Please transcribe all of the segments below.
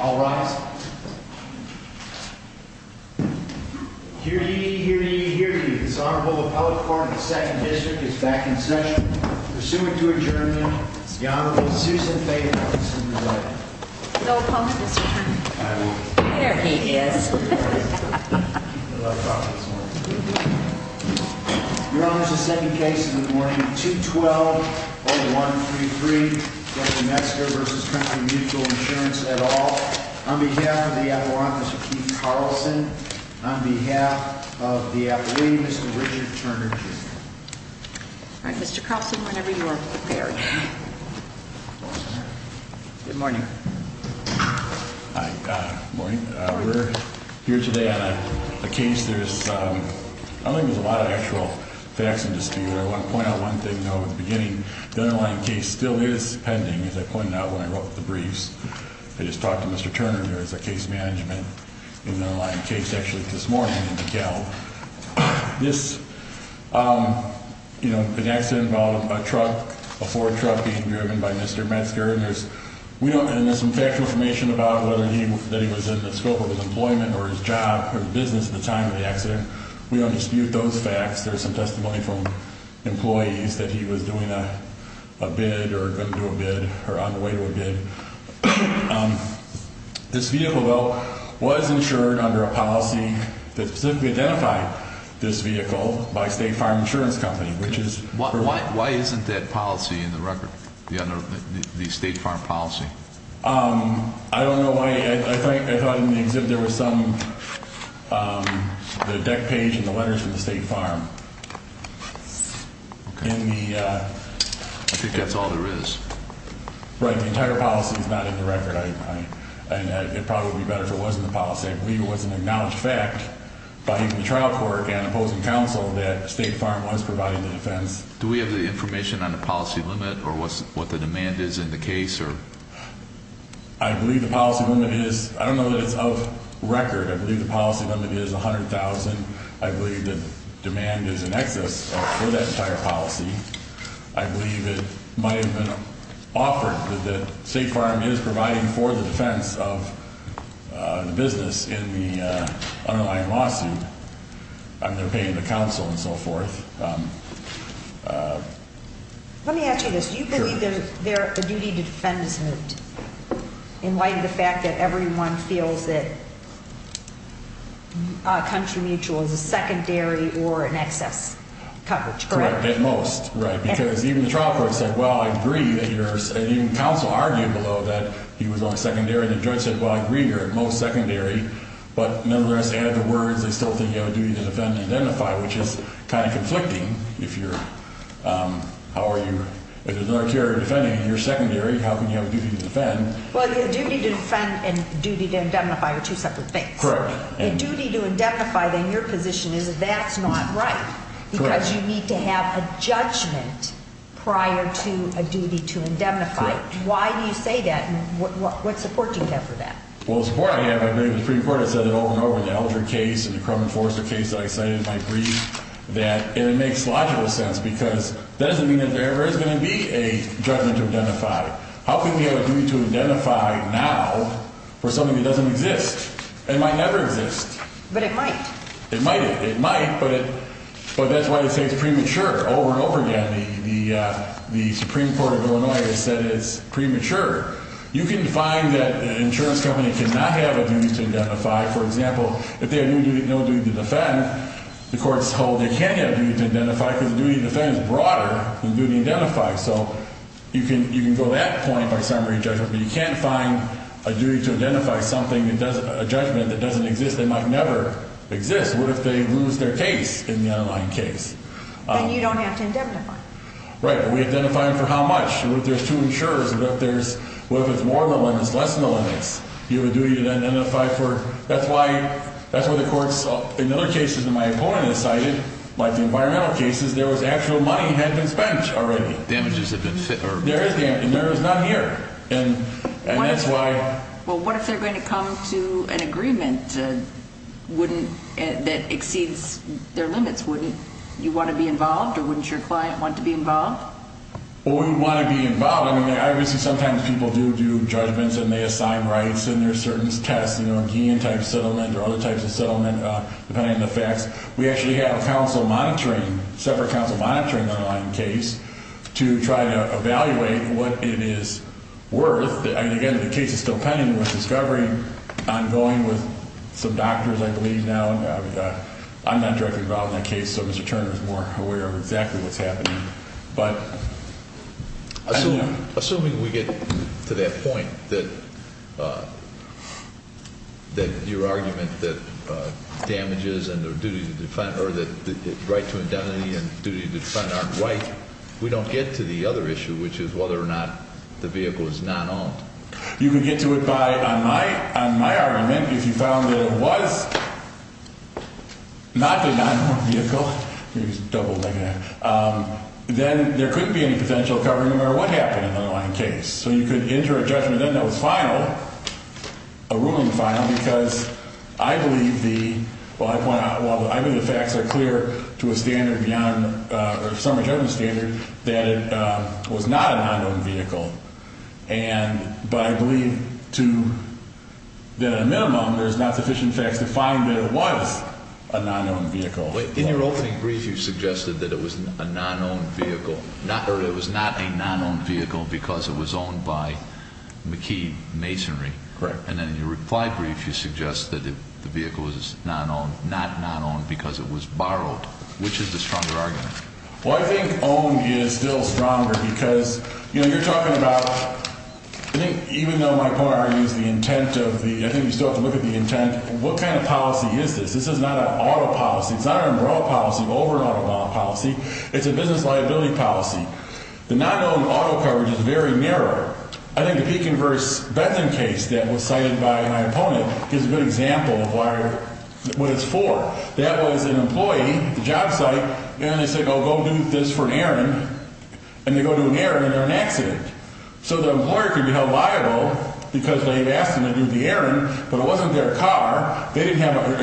All rise. Hear ye, hear ye, hear ye. This Honorable Appellate Court of the 2nd District is back in session. Pursuant to adjournment, the Honorable Susan Fagan. No comment, Mr. Chairman. There he is. Your Honor, the second case of the morning, 212-0133, Judge Mezger v. Country Mutual Insurance, et al., on behalf of the Attorney's Office, Keith Carlson, on behalf of the Appellate, Mr. Richard Turner Jr. All right, Mr. Carlson, whenever you are prepared. Good morning. Hi. Morning. We're here today on a case there's... I don't think there's a lot of actual facts in this case. I want to point out one thing, though, at the beginning. The underlying case still is pending, as I pointed out when I wrote the briefs. I just talked to Mr. Turner, who is the case management, in the underlying case, actually, this morning in DeKalb. This, you know, an accident involving a truck, a Ford truck being driven by Mr. Mezger, and there's some factual information about whether he... that he was in the scope of his employment or his job or his business at the time of the accident. We don't dispute those facts. There's some testimony from employees that he was doing a bid or going to do a bid or on the way to a bid. This vehicle, though, was insured under a policy that specifically identified this vehicle by State Farm Insurance Company, which is... Why isn't that policy in the record, the State Farm policy? I don't know why. I thought in the exhibit there was some... The deck page and the letters from the State Farm. In the... I think that's all there is. Right. The entire policy is not in the record. It probably would be better if it wasn't in the policy. I believe it was an acknowledged fact by even the trial court and opposing counsel that State Farm was providing the defense. Do we have the information on the policy limit or what the demand is in the case? I believe the policy limit is... I don't know that it's of record. I believe the policy limit is $100,000. I believe the demand is in excess for that entire policy. I believe it might have been offered that State Farm is providing for the defense of the business in the underlying lawsuit. I mean, they're paying the counsel and so forth. Let me ask you this. Do you believe there's a duty to defense it in light of the fact that everyone feels that country mutual is a secondary or an excess coverage? Correct. At most. Right. Because even the trial court said, well, I agree that you're... And even counsel argued below that he was on secondary. The judge said, well, I agree you're at most secondary. But nonetheless, they had the words. They still think you have a duty to defend and identify, which is kind of conflicting. If you're... How are you... If there's an artillery defending and you're secondary, how can you have a duty to defend? Well, the duty to defend and duty to identify are two separate things. Correct. The duty to identify in your position is that that's not right. Correct. Because you need to have a judgment prior to a duty to indemnify. Correct. Why do you say that? And what support do you have for that? Well, the support I have, I believe, the Supreme Court has said it over and over. The Alger case and the Crum and Forrester case that I cited, I agree that... And it makes logical sense because that doesn't mean that there ever is going to be a judgment to indemnify. How can we have a duty to indemnify now for something that doesn't exist? It might never exist. But it might. It might. It might, but that's why they say it's premature. Over and over again, the Supreme Court of Illinois has said it's premature. You can find that an insurance company cannot have a duty to indemnify. For example, if they have no duty to defend, the court's told they can't have a duty to indemnify because the duty to defend is broader than the duty to indemnify. So you can go that point by summary judgment, but you can't find a duty to indemnify a judgment that doesn't exist. They might never exist. What if they lose their case in the underlying case? Then you don't have to indemnify. Right, but we identify them for how much. What if there's two insurers? What if it's more than the limits, less than the limits? You have a duty to indemnify for... That's why the courts, in other cases that my opponent has cited, like the environmental cases, there was actual money that had been spent already. Damages had been... There is damage, and there is none here. And that's why... Well, what if they're going to come to an agreement that exceeds their limits? Wouldn't you want to be involved, or wouldn't your client want to be involved? Well, we would want to be involved. I mean, obviously, sometimes people do do judgments and they assign rights, and there are certain tests, you know, a guillotine-type settlement or other types of settlement, depending on the facts. We actually have counsel monitoring, separate counsel monitoring the underlying case to try to evaluate what it is worth. I mean, again, the case is still pending with discovery. I'm going with some doctors, I believe, now. I'm not directly involved in that case, so Mr. Turner is more aware of exactly what's happening. But... Assuming we get to that point, that your argument that damages and their duty to defend... or that the right to indemnity and duty to defend aren't right, we don't get to the other issue, which is whether or not the vehicle is non-owned. You can get to it on my argument if you found that it was not a non-owned vehicle. Let me just double-leg it. Then there couldn't be any potential covering no matter what happened in the underlying case. So you could enter a judgment then that was final, a ruling final, because I believe the... well, I point out, well, I believe the facts are clear to a standard beyond... or some judgment standard that it was not a non-owned vehicle. And... but I believe to the minimum there's not sufficient facts to find that it was a non-owned vehicle. Wait, in your opening brief, you suggested that it was a non-owned vehicle. Or it was not a non-owned vehicle because it was owned by McKee Masonry. Correct. And then in your reply brief, you suggest that the vehicle was non-owned, not non-owned because it was borrowed. Which is the stronger argument? Well, I think owned is still stronger because, you know, you're talking about... I think even though my point argues the intent of the... I think you still have to look at the intent. What kind of policy is this? This is not an auto policy. It's not an immoral policy, an over-and-under policy. It's a business liability policy. The non-owned auto coverage is very narrow. I think the Pekin v. Bentham case that was cited by my opponent gives a good example of what it's for. That was an employee at the job site, and they said, oh, go do this for an errand. And they go do an errand, and they're in an accident. So the employer can be held liable because they've asked them to do the errand, but it wasn't their car. They didn't have their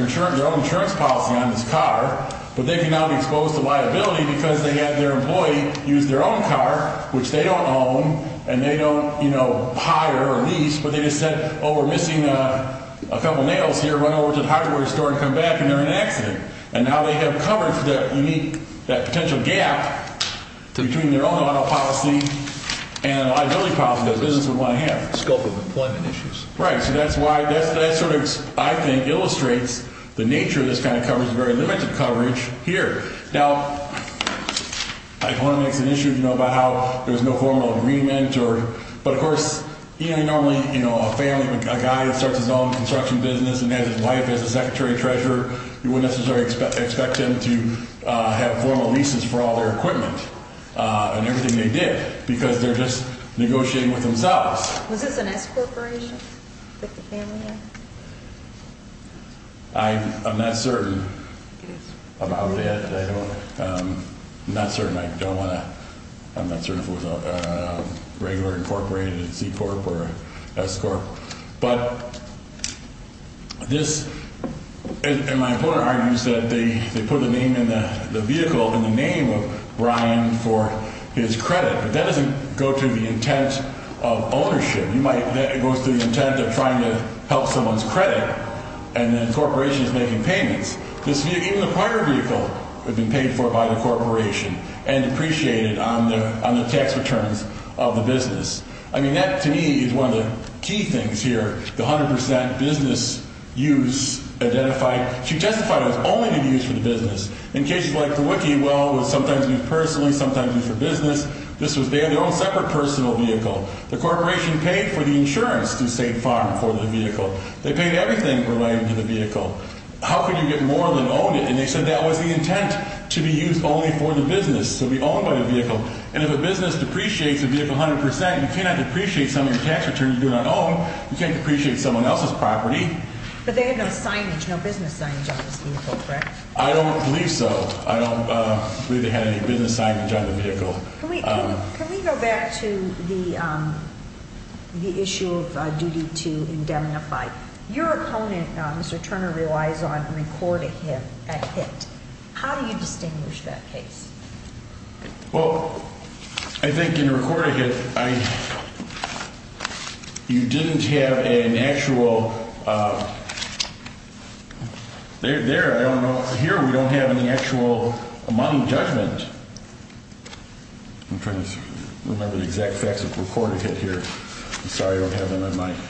own insurance policy on this car, but they can now be exposed to liability because they had their employee use their own car, which they don't own, and they don't, you know, hire or lease, but they just said, oh, we're missing a couple nails here. Run over to the hardware store and come back, and they're in an accident. And now they have coverage that you need, that potential gap between their own auto policy and a liability policy that a business would want to have. Scope of employment issues. Right. So that's why that sort of, I think, illustrates the nature of this kind of coverage, some very limited coverage here. Now, I don't want to mix an issue, you know, about how there's no formal agreement, but, of course, you know, normally, you know, a family, a guy that starts his own construction business and has his wife as a secretary treasurer, you wouldn't necessarily expect them to have formal leases for all their equipment and everything they did because they're just negotiating with themselves. Was this an S corporation that the family owned? I'm not certain about that. I'm not certain. I don't want to. I'm not certain if it was a regular incorporated C corp or S corp. But this, and my opponent argues that they put the name and the vehicle and the name of Brian for his credit. But that doesn't go to the intent of ownership. That goes to the intent of trying to help someone's credit, and the corporation is making payments. Even the primary vehicle had been paid for by the corporation and depreciated on the tax returns of the business. I mean, that, to me, is one of the key things here, the 100% business use identified. She testified it was only to be used for the business. In cases like the Wiki, well, it was sometimes used personally, sometimes used for business. This was their own separate personal vehicle. The corporation paid for the insurance through State Farm for the vehicle. They paid everything related to the vehicle. How could you get more than owned it? And they said that was the intent, to be used only for the business, to be owned by the vehicle. And if a business depreciates a vehicle 100%, you cannot depreciate some of your tax returns you do not own. You can't depreciate someone else's property. But they had no signage, no business signage on this vehicle, correct? I don't believe so. I don't believe they had any business signage on the vehicle. Can we go back to the issue of duty to indemnify? Your opponent, Mr. Turner, relies on recorded hit. How do you distinguish that case? Well, I think in recorded hit, you didn't have an actual – there, I don't know. Here, we don't have an actual amount of judgment. I'm trying to remember the exact facts of recorded hit here. I'm sorry I don't have them on my –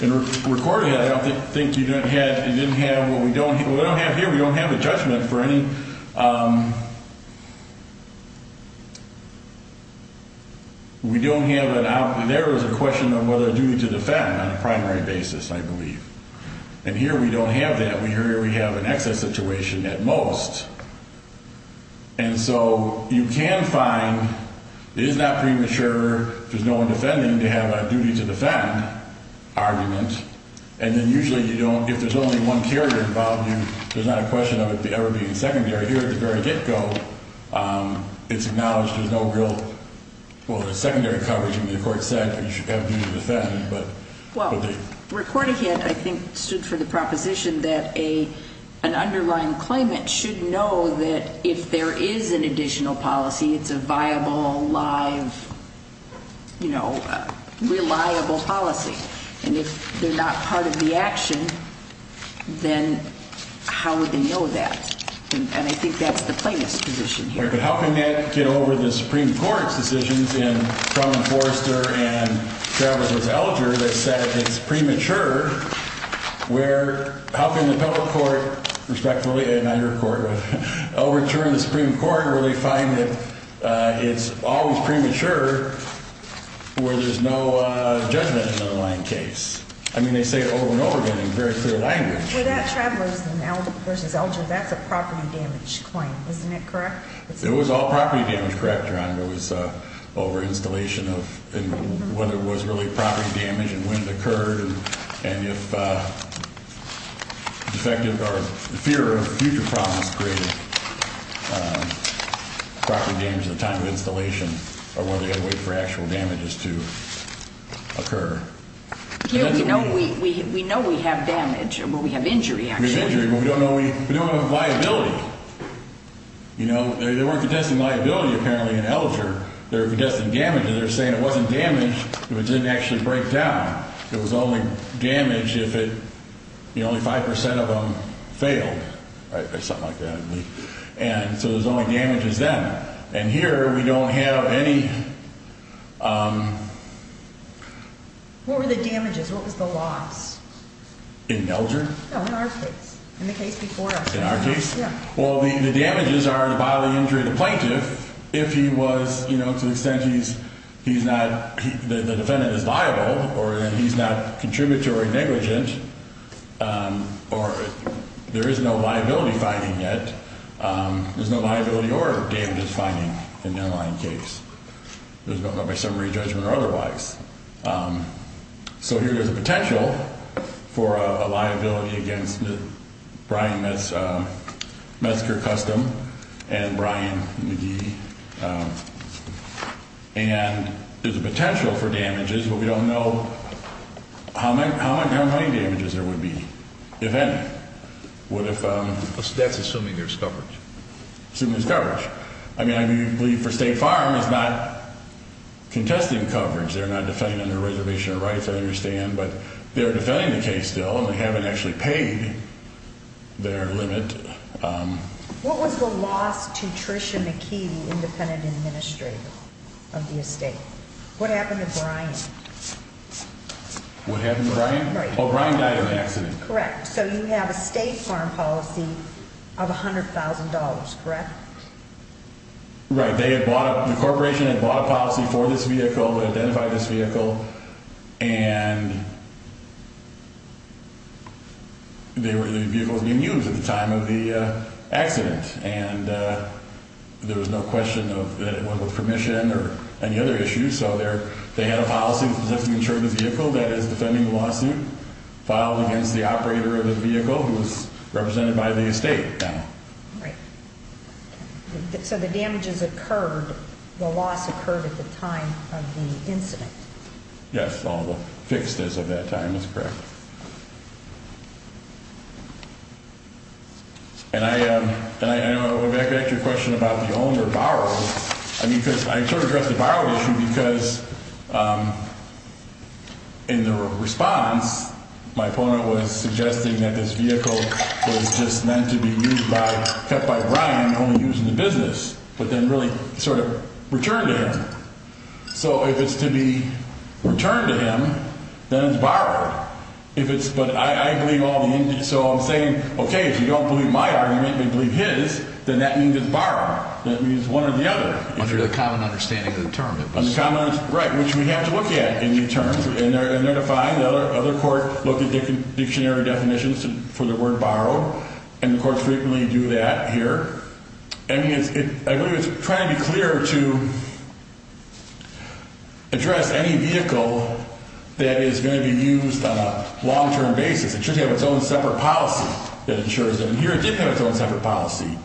In recorded hit, I don't think you didn't have – you didn't have what we don't have here. We don't have a judgment for any – We don't have an – there is a question of whether a duty to defend on a primary basis, I believe. And here, we don't have that. Here, we have an excess situation at most. And so you can find it is not premature. If there's no one defending, they have a duty to defend argument. And then usually, you don't – if there's only one carrier involved, there's not a question of it ever being secondary. Here, at the very get-go, it's acknowledged there's no real – well, there's secondary coverage. I mean, the court said you should have duty to defend. Well, recorded hit, I think, stood for the proposition that an underlying claimant should know that if there is an additional policy, it's a viable, live, you know, reliable policy. And if they're not part of the action, then how would they know that? And I think that's the plaintiff's position here. But how can that get over the Supreme Court's decisions in Trumman, Forrester, and Traveler v. Alger that said it's premature where – how can the public court, respectively, and your court overturn the Supreme Court where they find that it's always premature where there's no judgment in an underlying case? I mean, they say it over and over again in very clear language. Well, that Traveler v. Alger, that's a property damage claim. Isn't it correct? It was all property damage. Correct, Your Honor. It was over installation of – and whether it was really property damage and when it occurred and if defective or fear of future problems created property damage at the time of installation or whether they had to wait for actual damages to occur. We know we have damage. We have injury. But we don't know – we don't have a liability. You know, they weren't contesting liability apparently in Alger. They were contesting damage. And they're saying it wasn't damage if it didn't actually break down. It was only damage if it – you know, only 5 percent of them failed or something like that. And so there's only damages then. And here we don't have any – What were the damages? What was the loss? In Alger? No, in our case. In the case before us. In our case? Yeah. Well, the damages are the bodily injury of the plaintiff if he was – you know, to the extent he's not – the defendant is liable or he's not contributory negligent or there is no liability finding yet. There's no liability or damages finding in the underlying case. There's no summary judgment or otherwise. So here there's a potential for a liability against Brian Metzker Custom and Brian McGee. And there's a potential for damages, but we don't know how many damages there would be if any. What if – That's assuming there's coverage. Assuming there's coverage. I mean, I believe for State Farm it's not contesting coverage. They're not defending under reservation of rights, I understand. But they're defending the case still and they haven't actually paid their limit. What was the loss to Trisha McKee, the independent administrator of the estate? What happened to Brian? What happened to Brian? Well, Brian died in an accident. Correct. So you have a State Farm policy of $100,000, correct? Right. They had bought – the corporation had bought a policy for this vehicle, identified this vehicle, and the vehicle was being used at the time of the accident. And there was no question that it was with permission or any other issues. So they had a policy to protect and insure the vehicle that is defending the lawsuit filed against the operator of the vehicle who is represented by the estate now. Right. So the damages occurred, the loss occurred at the time of the incident. Yes. All the fixed is of that time is correct. And I – if I could ask you a question about the home or borrow. I mean, because I sort of addressed the borrow issue because in the response, my opponent was suggesting that this vehicle was just meant to be used by – kept by Brian and only used in the business, but then really sort of returned to him. So if it's to be returned to him, then it's borrowed. If it's – but I believe all the – so I'm saying, okay, if you don't believe my argument and believe his, then that means it's borrowed. That means one or the other. Under the common understanding of the term. Under the common – right, which we have to look at in new terms. And they're defined. Other courts look at dictionary definitions for the word borrow. And the courts frequently do that here. I mean, it's – I believe it's trying to be clear to address any vehicle that is going to be used on a long-term basis. It should have its own separate policy that insures it. And here it did have its own separate policy.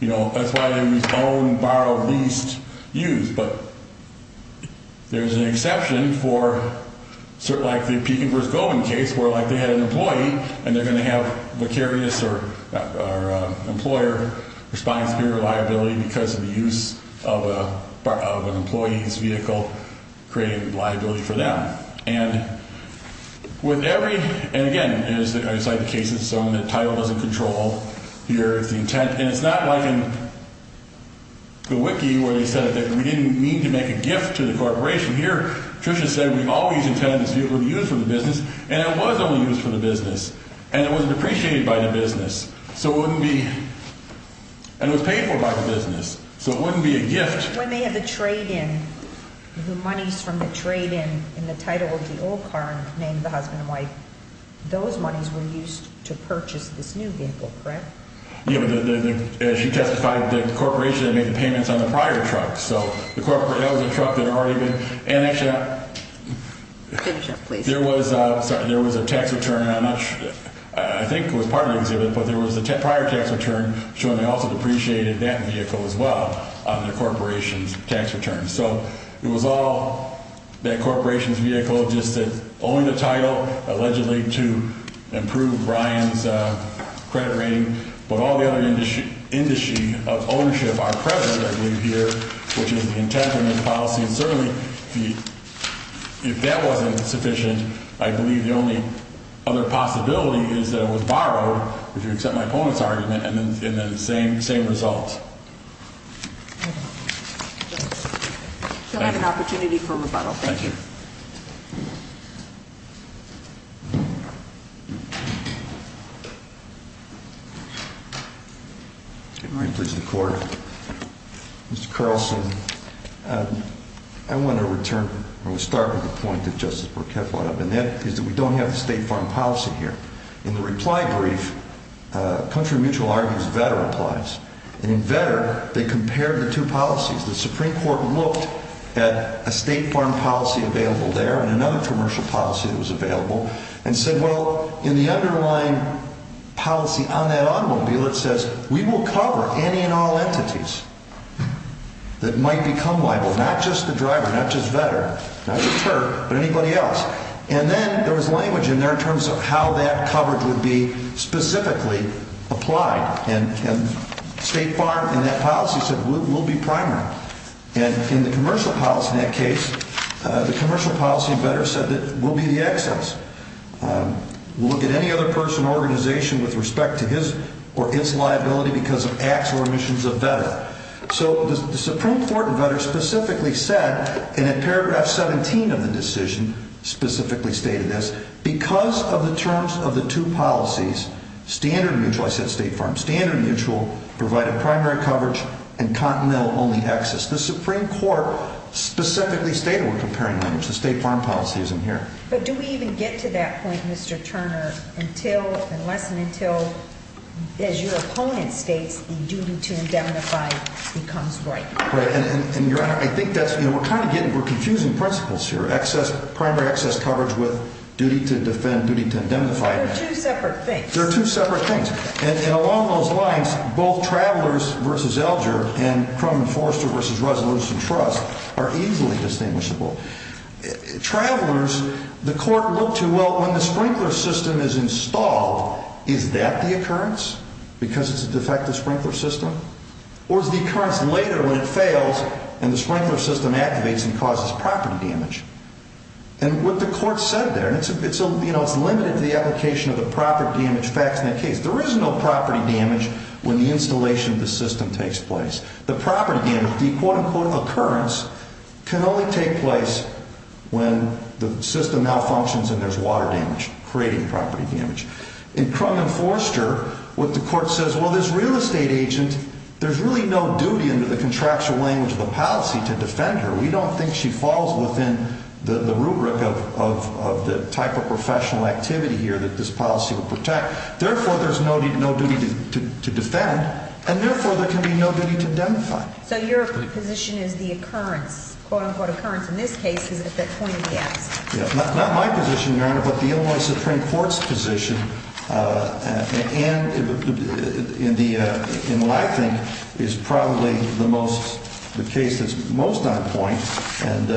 You know, that's why they use own, borrow, lease, use. But there's an exception for – like the Pekin v. Goldman case, where, like, they had an employee and they're going to have vicarious or employer-responding superior liability because of the use of an employee's vehicle, creating liability for them. And with every – and, again, it's like the case that's shown. The title doesn't control. Here is the intent. And it's not like in the wiki where they said that we didn't mean to make a gift to the corporation. Here, Patricia said we've always intended this vehicle to be used for the business. And it was only used for the business. And it was depreciated by the business. So it wouldn't be – and it was paid for by the business. So it wouldn't be a gift. When they have the trade-in, the monies from the trade-in in the title of the old car, named the husband and wife, those monies were used to purchase this new vehicle, correct? Yeah, but as you testified, the corporation had made the payments on the prior truck. So that was a truck that had already been – and actually, there was a tax return on – I think it was part of the exhibit, but there was a prior tax return showing they also depreciated that vehicle as well on the corporation's tax return. So it was all that corporation's vehicle, just that only the title, allegedly to improve Brian's credit rating. But all the other indices of ownership are present, I believe, here, which is the intent and the policy. And certainly, if that wasn't sufficient, I believe the only other possibility is that it was borrowed, if you accept my opponent's argument, and then the same results. We'll have an opportunity for rebuttal. Thank you. All right. Please, the Court. Mr. Carlson, I want to return – or we'll start with the point that Justice Borchetta brought up, and that is that we don't have the State Farm Policy here. In the reply brief, Country Mutual argues that Vetter applies. And in Vetter, they compared the two policies. The Supreme Court looked at a State Farm Policy available there and another commercial policy that was available, and said, well, in the underlying policy on that automobile, it says, we will cover any and all entities that might become liable, not just the driver, not just Vetter, not just Terp, but anybody else. And then there was language in there in terms of how that coverage would be specifically applied. And State Farm in that policy said, we'll be primary. And in the commercial policy in that case, the commercial policy in Vetter said that we'll be the excess. We'll look at any other person or organization with respect to his or its liability because of acts or omissions of Vetter. So the Supreme Court in Vetter specifically said, and in paragraph 17 of the decision specifically stated this, because of the terms of the two policies, Standard Mutual – I said State Farm – and Standard Mutual provide a primary coverage and continental only excess. The Supreme Court specifically stated we're comparing language. The State Farm Policy isn't here. But do we even get to that point, Mr. Turner, unless and until, as your opponent states, the duty to indemnify becomes right? Right. And, Your Honor, I think that's – you know, we're kind of getting – we're confusing principles here. Excess – primary excess coverage with duty to defend, duty to indemnify. They're two separate things. They're two separate things. And along those lines, both Travelers v. Elger and Crum and Forrester v. Resolution Trust are easily distinguishable. Travelers, the court looked to, well, when the sprinkler system is installed, is that the occurrence because it's a defective sprinkler system? Or is the occurrence later when it fails and the sprinkler system activates and causes property damage? And what the court said there – and, you know, it's limited to the application of the property damage facts in that case. There is no property damage when the installation of the system takes place. The property damage, the quote-unquote occurrence, can only take place when the system malfunctions and there's water damage creating property damage. In Crum and Forrester, what the court says, well, this real estate agent, there's really no duty under the contractual language of the policy to defend her. We don't think she falls within the rubric of the type of professional activity here that this policy would protect. Therefore, there's no duty to defend. And therefore, there can be no duty to indemnify. So your position is the occurrence, quote-unquote occurrence in this case is at the point of the accident. Not my position, Your Honor, but the Illinois Supreme Court's position and in Lackton is probably the most – the case that's most on point, and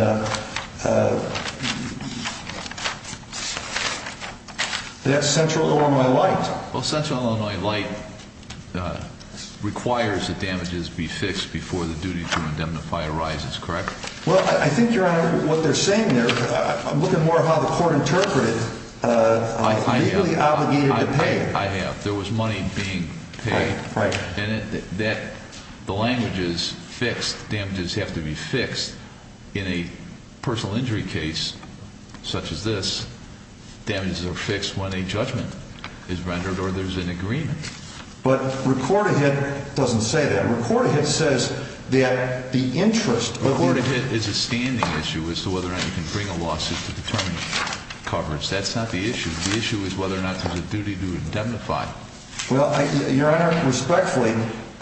that's Central Illinois Light. Well, Central Illinois Light requires that damages be fixed before the duty to indemnify arises, correct? Well, I think, Your Honor, what they're saying there – I'm looking more at how the court interpreted it. Well, it's legally obligated to pay. I have. There was money being paid. Right, right. And that – the language is fixed. Damages have to be fixed in a personal injury case such as this. Damages are fixed when a judgment is rendered or there's an agreement. But Recordahit doesn't say that. Recordahit says that the interest – Recordahit is a standing issue as to whether or not you can bring a lawsuit to determine coverage. That's not the issue. The issue is whether or not there's a duty to indemnify. Well, Your Honor, respectfully,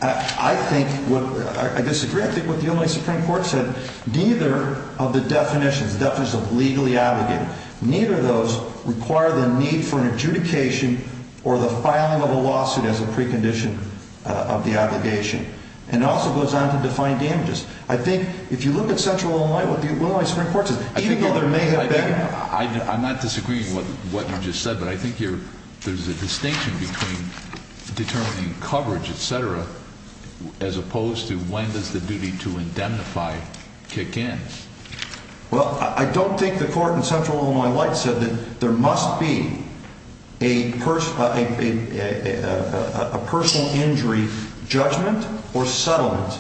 I think what – I disagree. I think what the Illinois Supreme Court said, neither of the definitions, the definitions of legally obligated, neither of those require the need for an adjudication or the filing of a lawsuit as a precondition of the obligation. And it also goes on to define damages. I think if you look at Central Illinois Light, what the Illinois Supreme Court says, even though there may have been – I'm not disagreeing with what you just said, but I think there's a distinction between determining coverage, et cetera, as opposed to when does the duty to indemnify kick in. Well, I don't think the court in Central Illinois Light said that there must be a personal injury judgment or settlement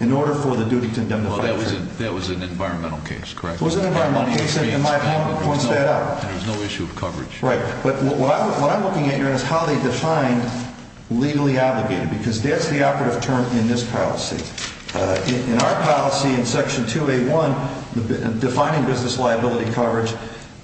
in order for the duty to indemnify. Well, that was an environmental case, correct? It was an environmental case, and my home points that out. And there's no issue of coverage. Right. But what I'm looking at, Your Honor, is how they define legally obligated, because that's the operative term in this policy. In our policy, in Section 2A1, defining business liability coverage,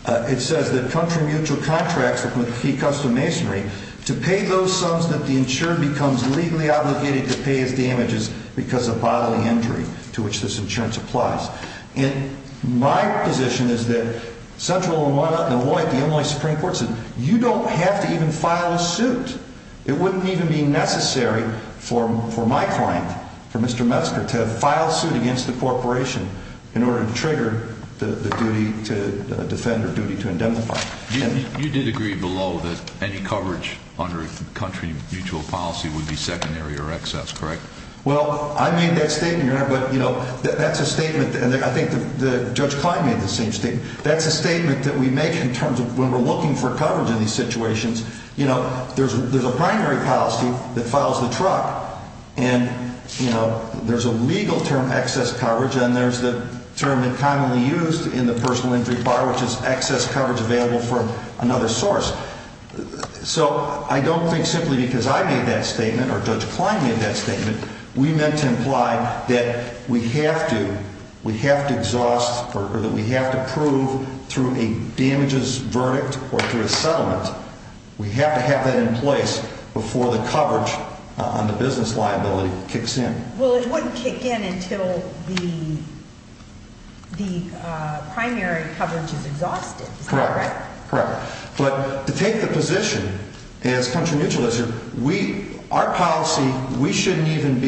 it says that country mutual contracts with key custom masonry, to pay those sums that the insurer becomes legally obligated to pay as damages because of bodily injury to which this insurance applies. And my position is that Central Illinois Light, the Illinois Supreme Court, says you don't have to even file a suit. It wouldn't even be necessary for my client, for Mr. Metzger, to file a suit against the corporation in order to trigger the duty to defend or duty to indemnify. You did agree below that any coverage under country mutual policy would be secondary or excess, correct? Well, I made that statement, Your Honor, but, you know, that's a statement, and I think Judge Klein made the same statement. That's a statement that we make in terms of when we're looking for coverage in these situations. You know, there's a primary policy that files the truck, and, you know, there's a legal term, excess coverage, and there's the term that's commonly used in the personal injury bar, which is excess coverage available from another source. So I don't think simply because I made that statement or Judge Klein made that statement we meant to imply that we have to exhaust or that we have to prove through a damages verdict or through a settlement. We have to have that in place before the coverage on the business liability kicks in. Well, it wouldn't kick in until the primary coverage is exhausted, is that correct? Correct, but to take the position as country mutual, our policy, we shouldn't even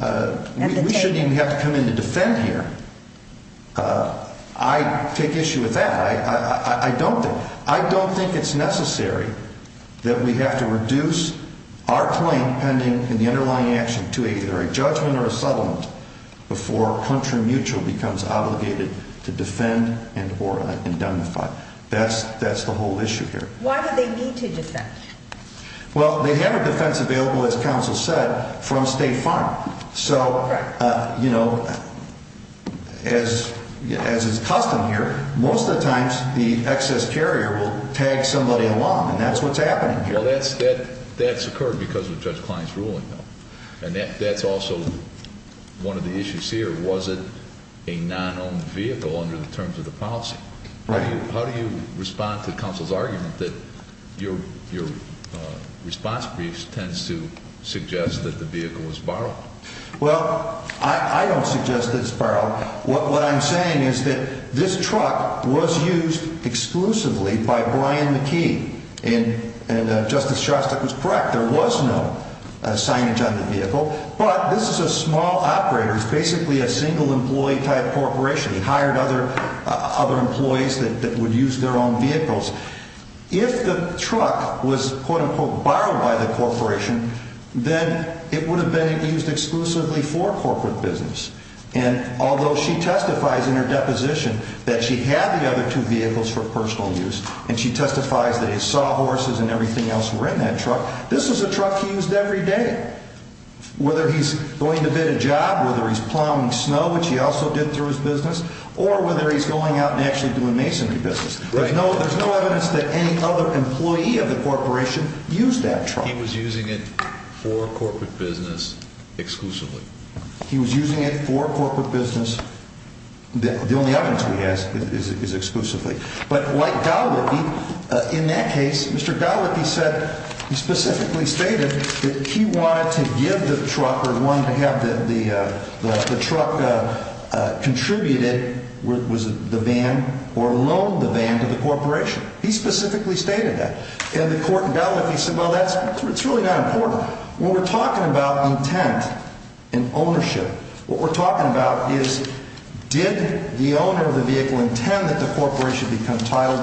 have to come in to defend here. I take issue with that. I don't think it's necessary that we have to reduce our claim pending in the underlying action to either a judgment or a settlement before country mutual becomes obligated to defend and or indemnify. That's the whole issue here. Why do they need to defend? Well, they have a defense available, as counsel said, from State Farm. So, you know, as is custom here, most of the times the excess carrier will tag somebody along, and that's what's happening here. Well, that's occurred because of Judge Klein's ruling, though, and that's also one of the issues here. Was it a non-owned vehicle under the terms of the policy? Right. How do you respond to counsel's argument that your response brief tends to suggest that the vehicle was borrowed? Well, I don't suggest that it's borrowed. What I'm saying is that this truck was used exclusively by Brian McKee, and Justice Shostak was correct. There was no signage on the vehicle, but this is a small operator. It's basically a single employee type corporation. He hired other employees that would use their own vehicles. If the truck was, quote-unquote, borrowed by the corporation, then it would have been used exclusively for corporate business. And although she testifies in her deposition that she had the other two vehicles for personal use, and she testifies that he saw horses and everything else were in that truck, this was a truck he used every day. Whether he's going to bid a job, whether he's plowing snow, which he also did through his business, or whether he's going out and actually doing masonry business, there's no evidence that any other employee of the corporation used that truck. He was using it for corporate business exclusively. He was using it for corporate business. The only evidence we have is exclusively. But like Gallipi, in that case, Mr. Gallipi said he specifically stated that he wanted to give the truck or wanted to have the truck contributed with the van or loan the van to the corporation. He specifically stated that. And the court in Gallipi said, well, that's really not important. When we're talking about intent and ownership, what we're talking about is, did the owner of the vehicle intend that the corporation become titled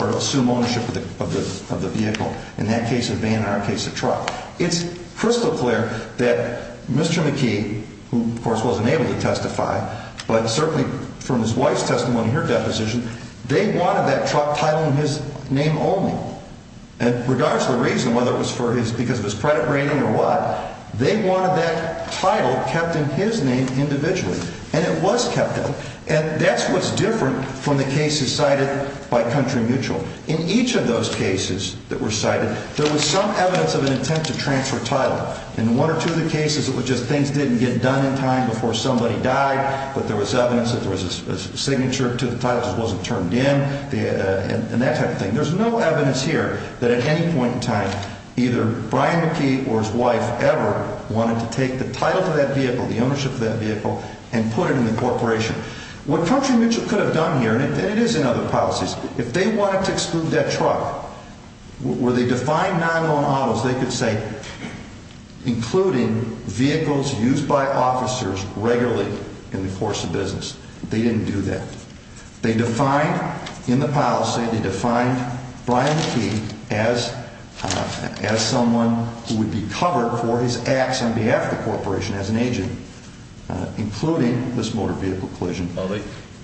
or assume ownership of the vehicle? In that case, a van, in our case, a truck. It's crystal clear that Mr. McKee, who, of course, wasn't able to testify, but certainly from his wife's testimony in her deposition, they wanted that truck titled in his name only. And regardless of the reason, whether it was because of his credit rating or what, they wanted that title kept in his name individually. And it was kept in. And that's what's different from the cases cited by Country Mutual. In each of those cases that were cited, there was some evidence of an intent to transfer title. In one or two of the cases, it was just things didn't get done in time before somebody died, but there was evidence that there was a signature to the title that wasn't turned in and that type of thing. There's no evidence here that at any point in time either Brian McKee or his wife ever wanted to take the title for that vehicle, the ownership of that vehicle, and put it in the corporation. What Country Mutual could have done here, and it is in other policies, if they wanted to exclude that truck, where they defined non-loan autos, they could say including vehicles used by officers regularly in the course of business. They didn't do that. They defined in the policy, they defined Brian McKee as someone who would be covered for his acts on behalf of the corporation as an agent, including this motor vehicle collision.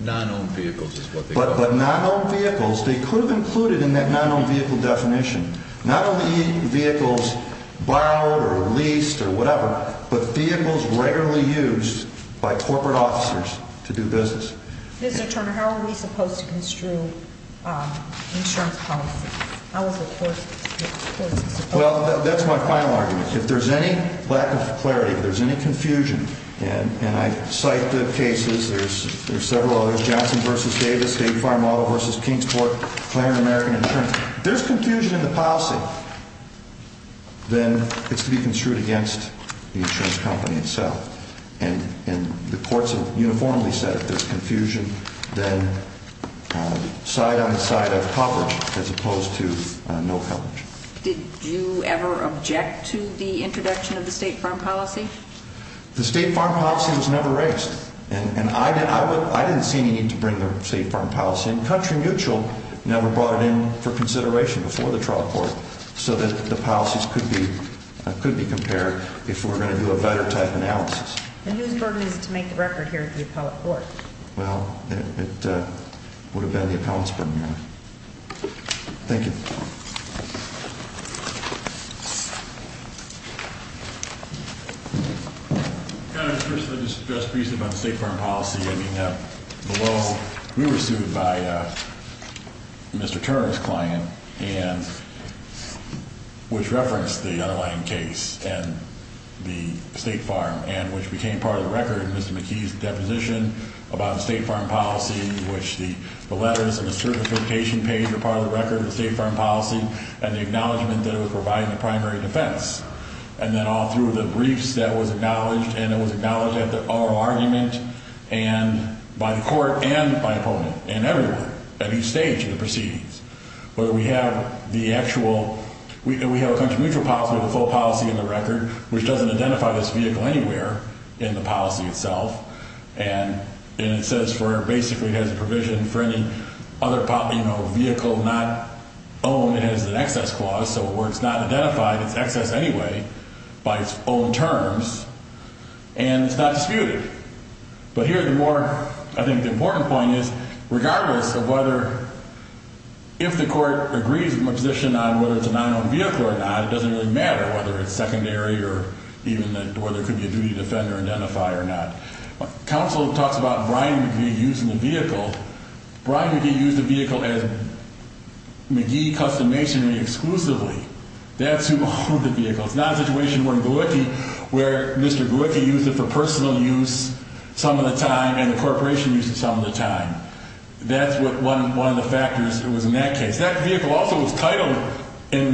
Non-owned vehicles is what they called it. But non-owned vehicles, they could have included in that non-owned vehicle definition, not only vehicles borrowed or leased or whatever, but vehicles regularly used by corporate officers to do business. Mr. Turner, how are we supposed to construe insurance policies? How is the course of support? Well, that's my final argument. If there's any lack of clarity, if there's any confusion, and I cite the cases, there's several others, Johnson v. Davis, State Farm Model v. Kingsport, Claire and American Insurance. If there's confusion in the policy, then it's to be construed against the insurance company itself. And the courts have uniformly said if there's confusion, then side on the side of coverage as opposed to no coverage. Did you ever object to the introduction of the State Farm Policy? The State Farm Policy was never raised, and I didn't see any need to bring the State Farm Policy in. Country Mutual never brought it in for consideration before the trial court so that the policies could be compared if we were going to do a better type analysis. And whose burden is it to make the record here at the appellate court? Well, it would have been the appellate's burden. Thank you. Your Honor, just briefly about the State Farm Policy. I mean, below, we were sued by Mr. Turing's client, which referenced the underlying case and the State Farm, and which became part of the record in Mr. McKee's deposition about the State Farm Policy, in which the letters and the certification page are part of the record of the State Farm Policy and the acknowledgment that it was provided in the primary defense. And then all through the briefs that was acknowledged, and it was acknowledged at the oral argument and by the court and by opponent and everywhere, at each stage of the proceedings. But we have the actual, we have a Country Mutual policy, the full policy in the record, which doesn't identify this vehicle anywhere in the policy itself. And it says for basically it has a provision for any other vehicle not owned. It has an excess clause. So where it's not identified, it's excess anyway by its own terms, and it's not disputed. But here the more, I think the important point is, regardless of whether, if the court agrees with my position on whether it's a non-owned vehicle or not, it doesn't really matter whether it's secondary or even whether it could be a duty to defend or identify or not. Counsel talks about Brian McGee using the vehicle. Brian McGee used the vehicle as McGee Custom Masonry exclusively. That's who owned the vehicle. It's not a situation where Mr. Glucki used it for personal use some of the time and the corporation used it some of the time. That's one of the factors that was in that case. That vehicle also was titled in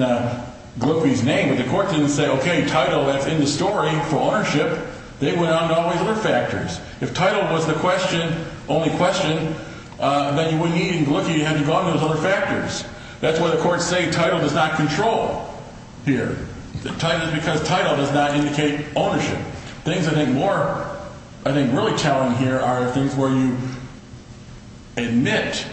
Glucki's name, but the court didn't say, okay, title, that's in the story for ownership. They went on to all these other factors. If title was the question, only question, then you wouldn't need Glucki. You'd have to go on to those other factors. That's why the courts say title does not control here. The title is because title does not indicate ownership. Things I think more, I think, really challenge here are things where you admit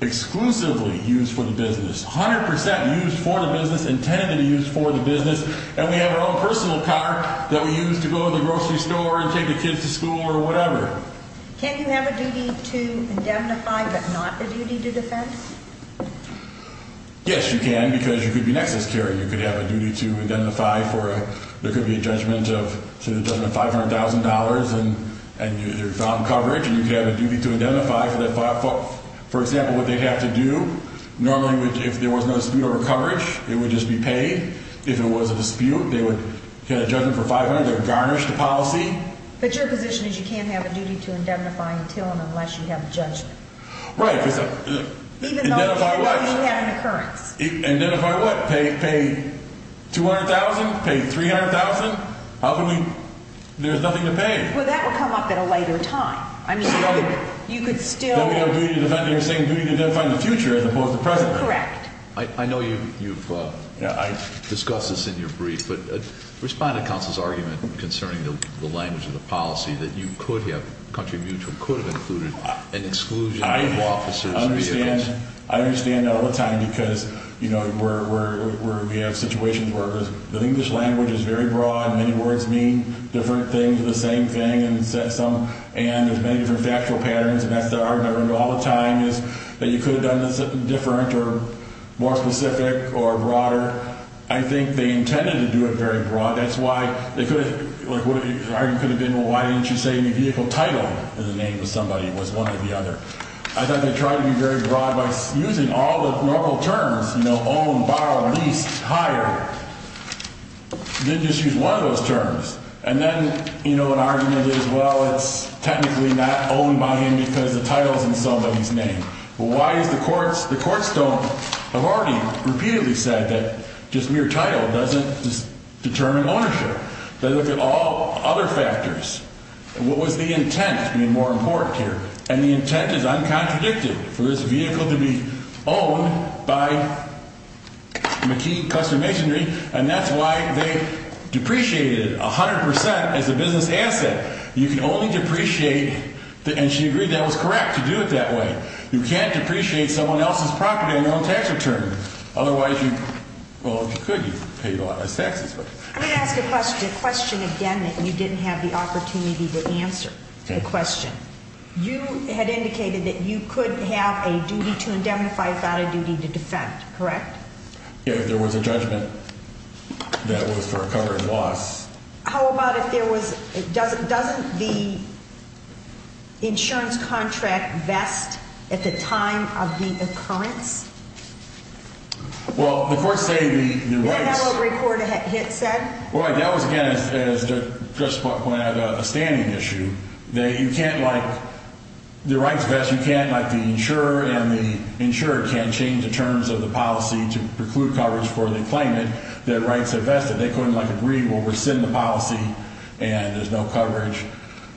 exclusively used for the business, 100% used for the business, intended to be used for the business, and we have our own personal car that we use to go to the grocery store and take the kids to school or whatever. Can you have a duty to indemnify but not a duty to defense? Yes, you can because you could be an excess carrier. You could have a duty to indemnify for a judgment of $500,000 and your found coverage, and you could have a duty to indemnify for that. For example, what they'd have to do, normally if there was no dispute over coverage, it would just be paid. If there was a dispute, they would get a judgment for $500,000. They would garnish the policy. But your position is you can't have a duty to indemnify until and unless you have a judgment. Right. Identify what? Even though you have an occurrence. Identify what? Pay $200,000? Pay $300,000? How can we? There's nothing to pay. Well, that would come up at a later time. I mean, you could still. Then we have a duty to defend. You're saying duty to identify in the future as opposed to present. Correct. I know you've discussed this in your brief, but respond to counsel's argument concerning the language of the policy, that you could have, Country of Mutual, could have included an exclusion of officers. I understand. I understand all the time because, you know, we have situations where the English language is very broad and many words mean different things, the same thing, and there's many different factual patterns, and that's the argument I run into all the time is that you could have done this different or more specific or broader. I think they intended to do it very broad. That's why they could have – like, what the argument could have been, well, why didn't you say the vehicle title of the name of somebody was one or the other? I thought they tried to be very broad by using all the normal terms, you know, own, borrow, lease, hire. They didn't just use one of those terms. And then, you know, an argument is, well, it's technically not owned by him because the title's in somebody's name. Well, why is the courts – the courts don't – have already repeatedly said that just mere title doesn't determine ownership. They look at all other factors. What was the intent to be more important here? And the intent is uncontradicted for this vehicle to be owned by McKee Customs and Machinery, and that's why they depreciated 100 percent as a business asset. You can only depreciate – and she agreed that was correct to do it that way. You can't depreciate someone else's property on your own tax return. Otherwise, you – well, if you could, you paid a lot less taxes. I'm going to ask a question, a question again that you didn't have the opportunity to answer, a question. You had indicated that you couldn't have a duty to indemnify without a duty to defend, correct? If there was a judgment that was for a covered loss. How about if there was – doesn't the insurance contract vest at the time of the occurrence? Well, the courts say the rights – That will record a hit set? Well, that was, again, as Judge Spock pointed out, a standing issue. You can't, like – the rights vest, you can't, like the insurer and the – the insurer can't change the terms of the policy to preclude coverage for the claimant. Their rights are vested. They couldn't, like, agree we'll rescind the policy, and there's no coverage,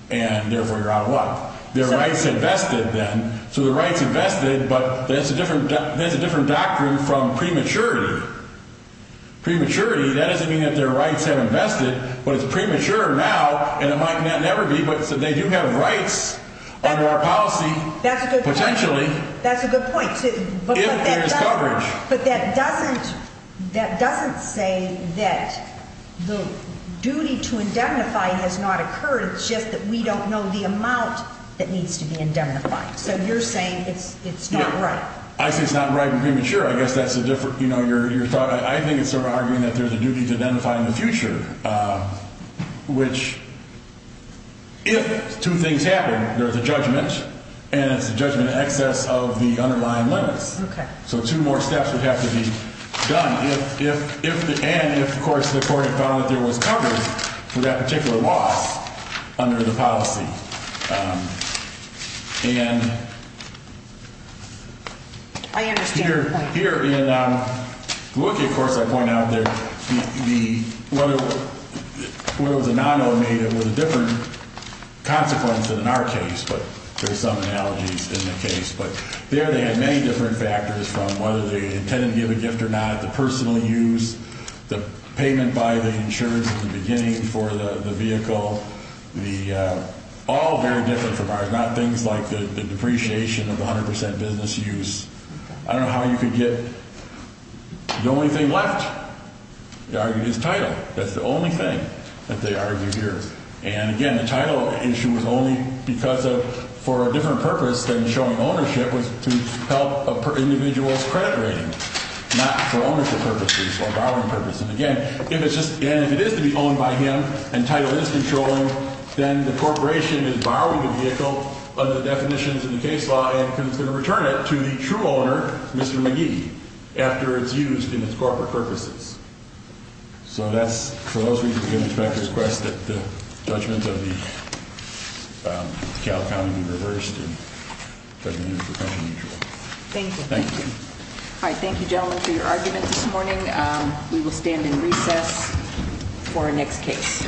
and therefore you're out of luck. Their rights are vested, then. So their rights are vested, but that's a different – that's a different doctrine from prematurity. Prematurity, that doesn't mean that their rights haven't vested, but it's premature now, and it might never be, but they do have rights under our policy, potentially. That's a good point. That's a good point. If there is coverage. But that doesn't – that doesn't say that the duty to indemnify has not occurred. It's just that we don't know the amount that needs to be indemnified. So you're saying it's not right. I say it's not right and premature. I guess that's a different – you know, your thought. I think it's sort of arguing that there's a duty to indemnify in the future, which if two things happen, there's a judgment, and it's a judgment in excess of the underlying limits. Okay. So two more steps would have to be done if – and if, of course, the court had found that there was coverage for that particular loss under the policy. And here in – I understand that. Here in the WICA, of course, I point out that the – whether it was a non-native was a different consequence than in our case, but there's some analogies in the case. But there they had many different factors from whether they intended to give a gift or not, the personal use, the payment by the insurance at the beginning for the vehicle, the – all very different from ours, not things like the depreciation of the 100% business use. I don't know how you could get – the only thing left, they argued, is title. That's the only thing that they argued here. And again, the title issue was only because of – for a different purpose than showing ownership was to help an individual's credit rating, not for ownership purposes or borrowing purposes. And again, if it's just – again, if it is to be owned by him and title is controlling, then the corporation is borrowing the vehicle under the definitions of the case law and is going to return it to the true owner, Mr. McGee, after it's used in its corporate purposes. So that's – for those reasons, again, I expect to request that the judgment of the Cal County be reversed and the judgment of the profession be dropped. Thank you. Thank you. All right. Thank you, gentlemen, for your argument this morning. We will stand in recess for our next case.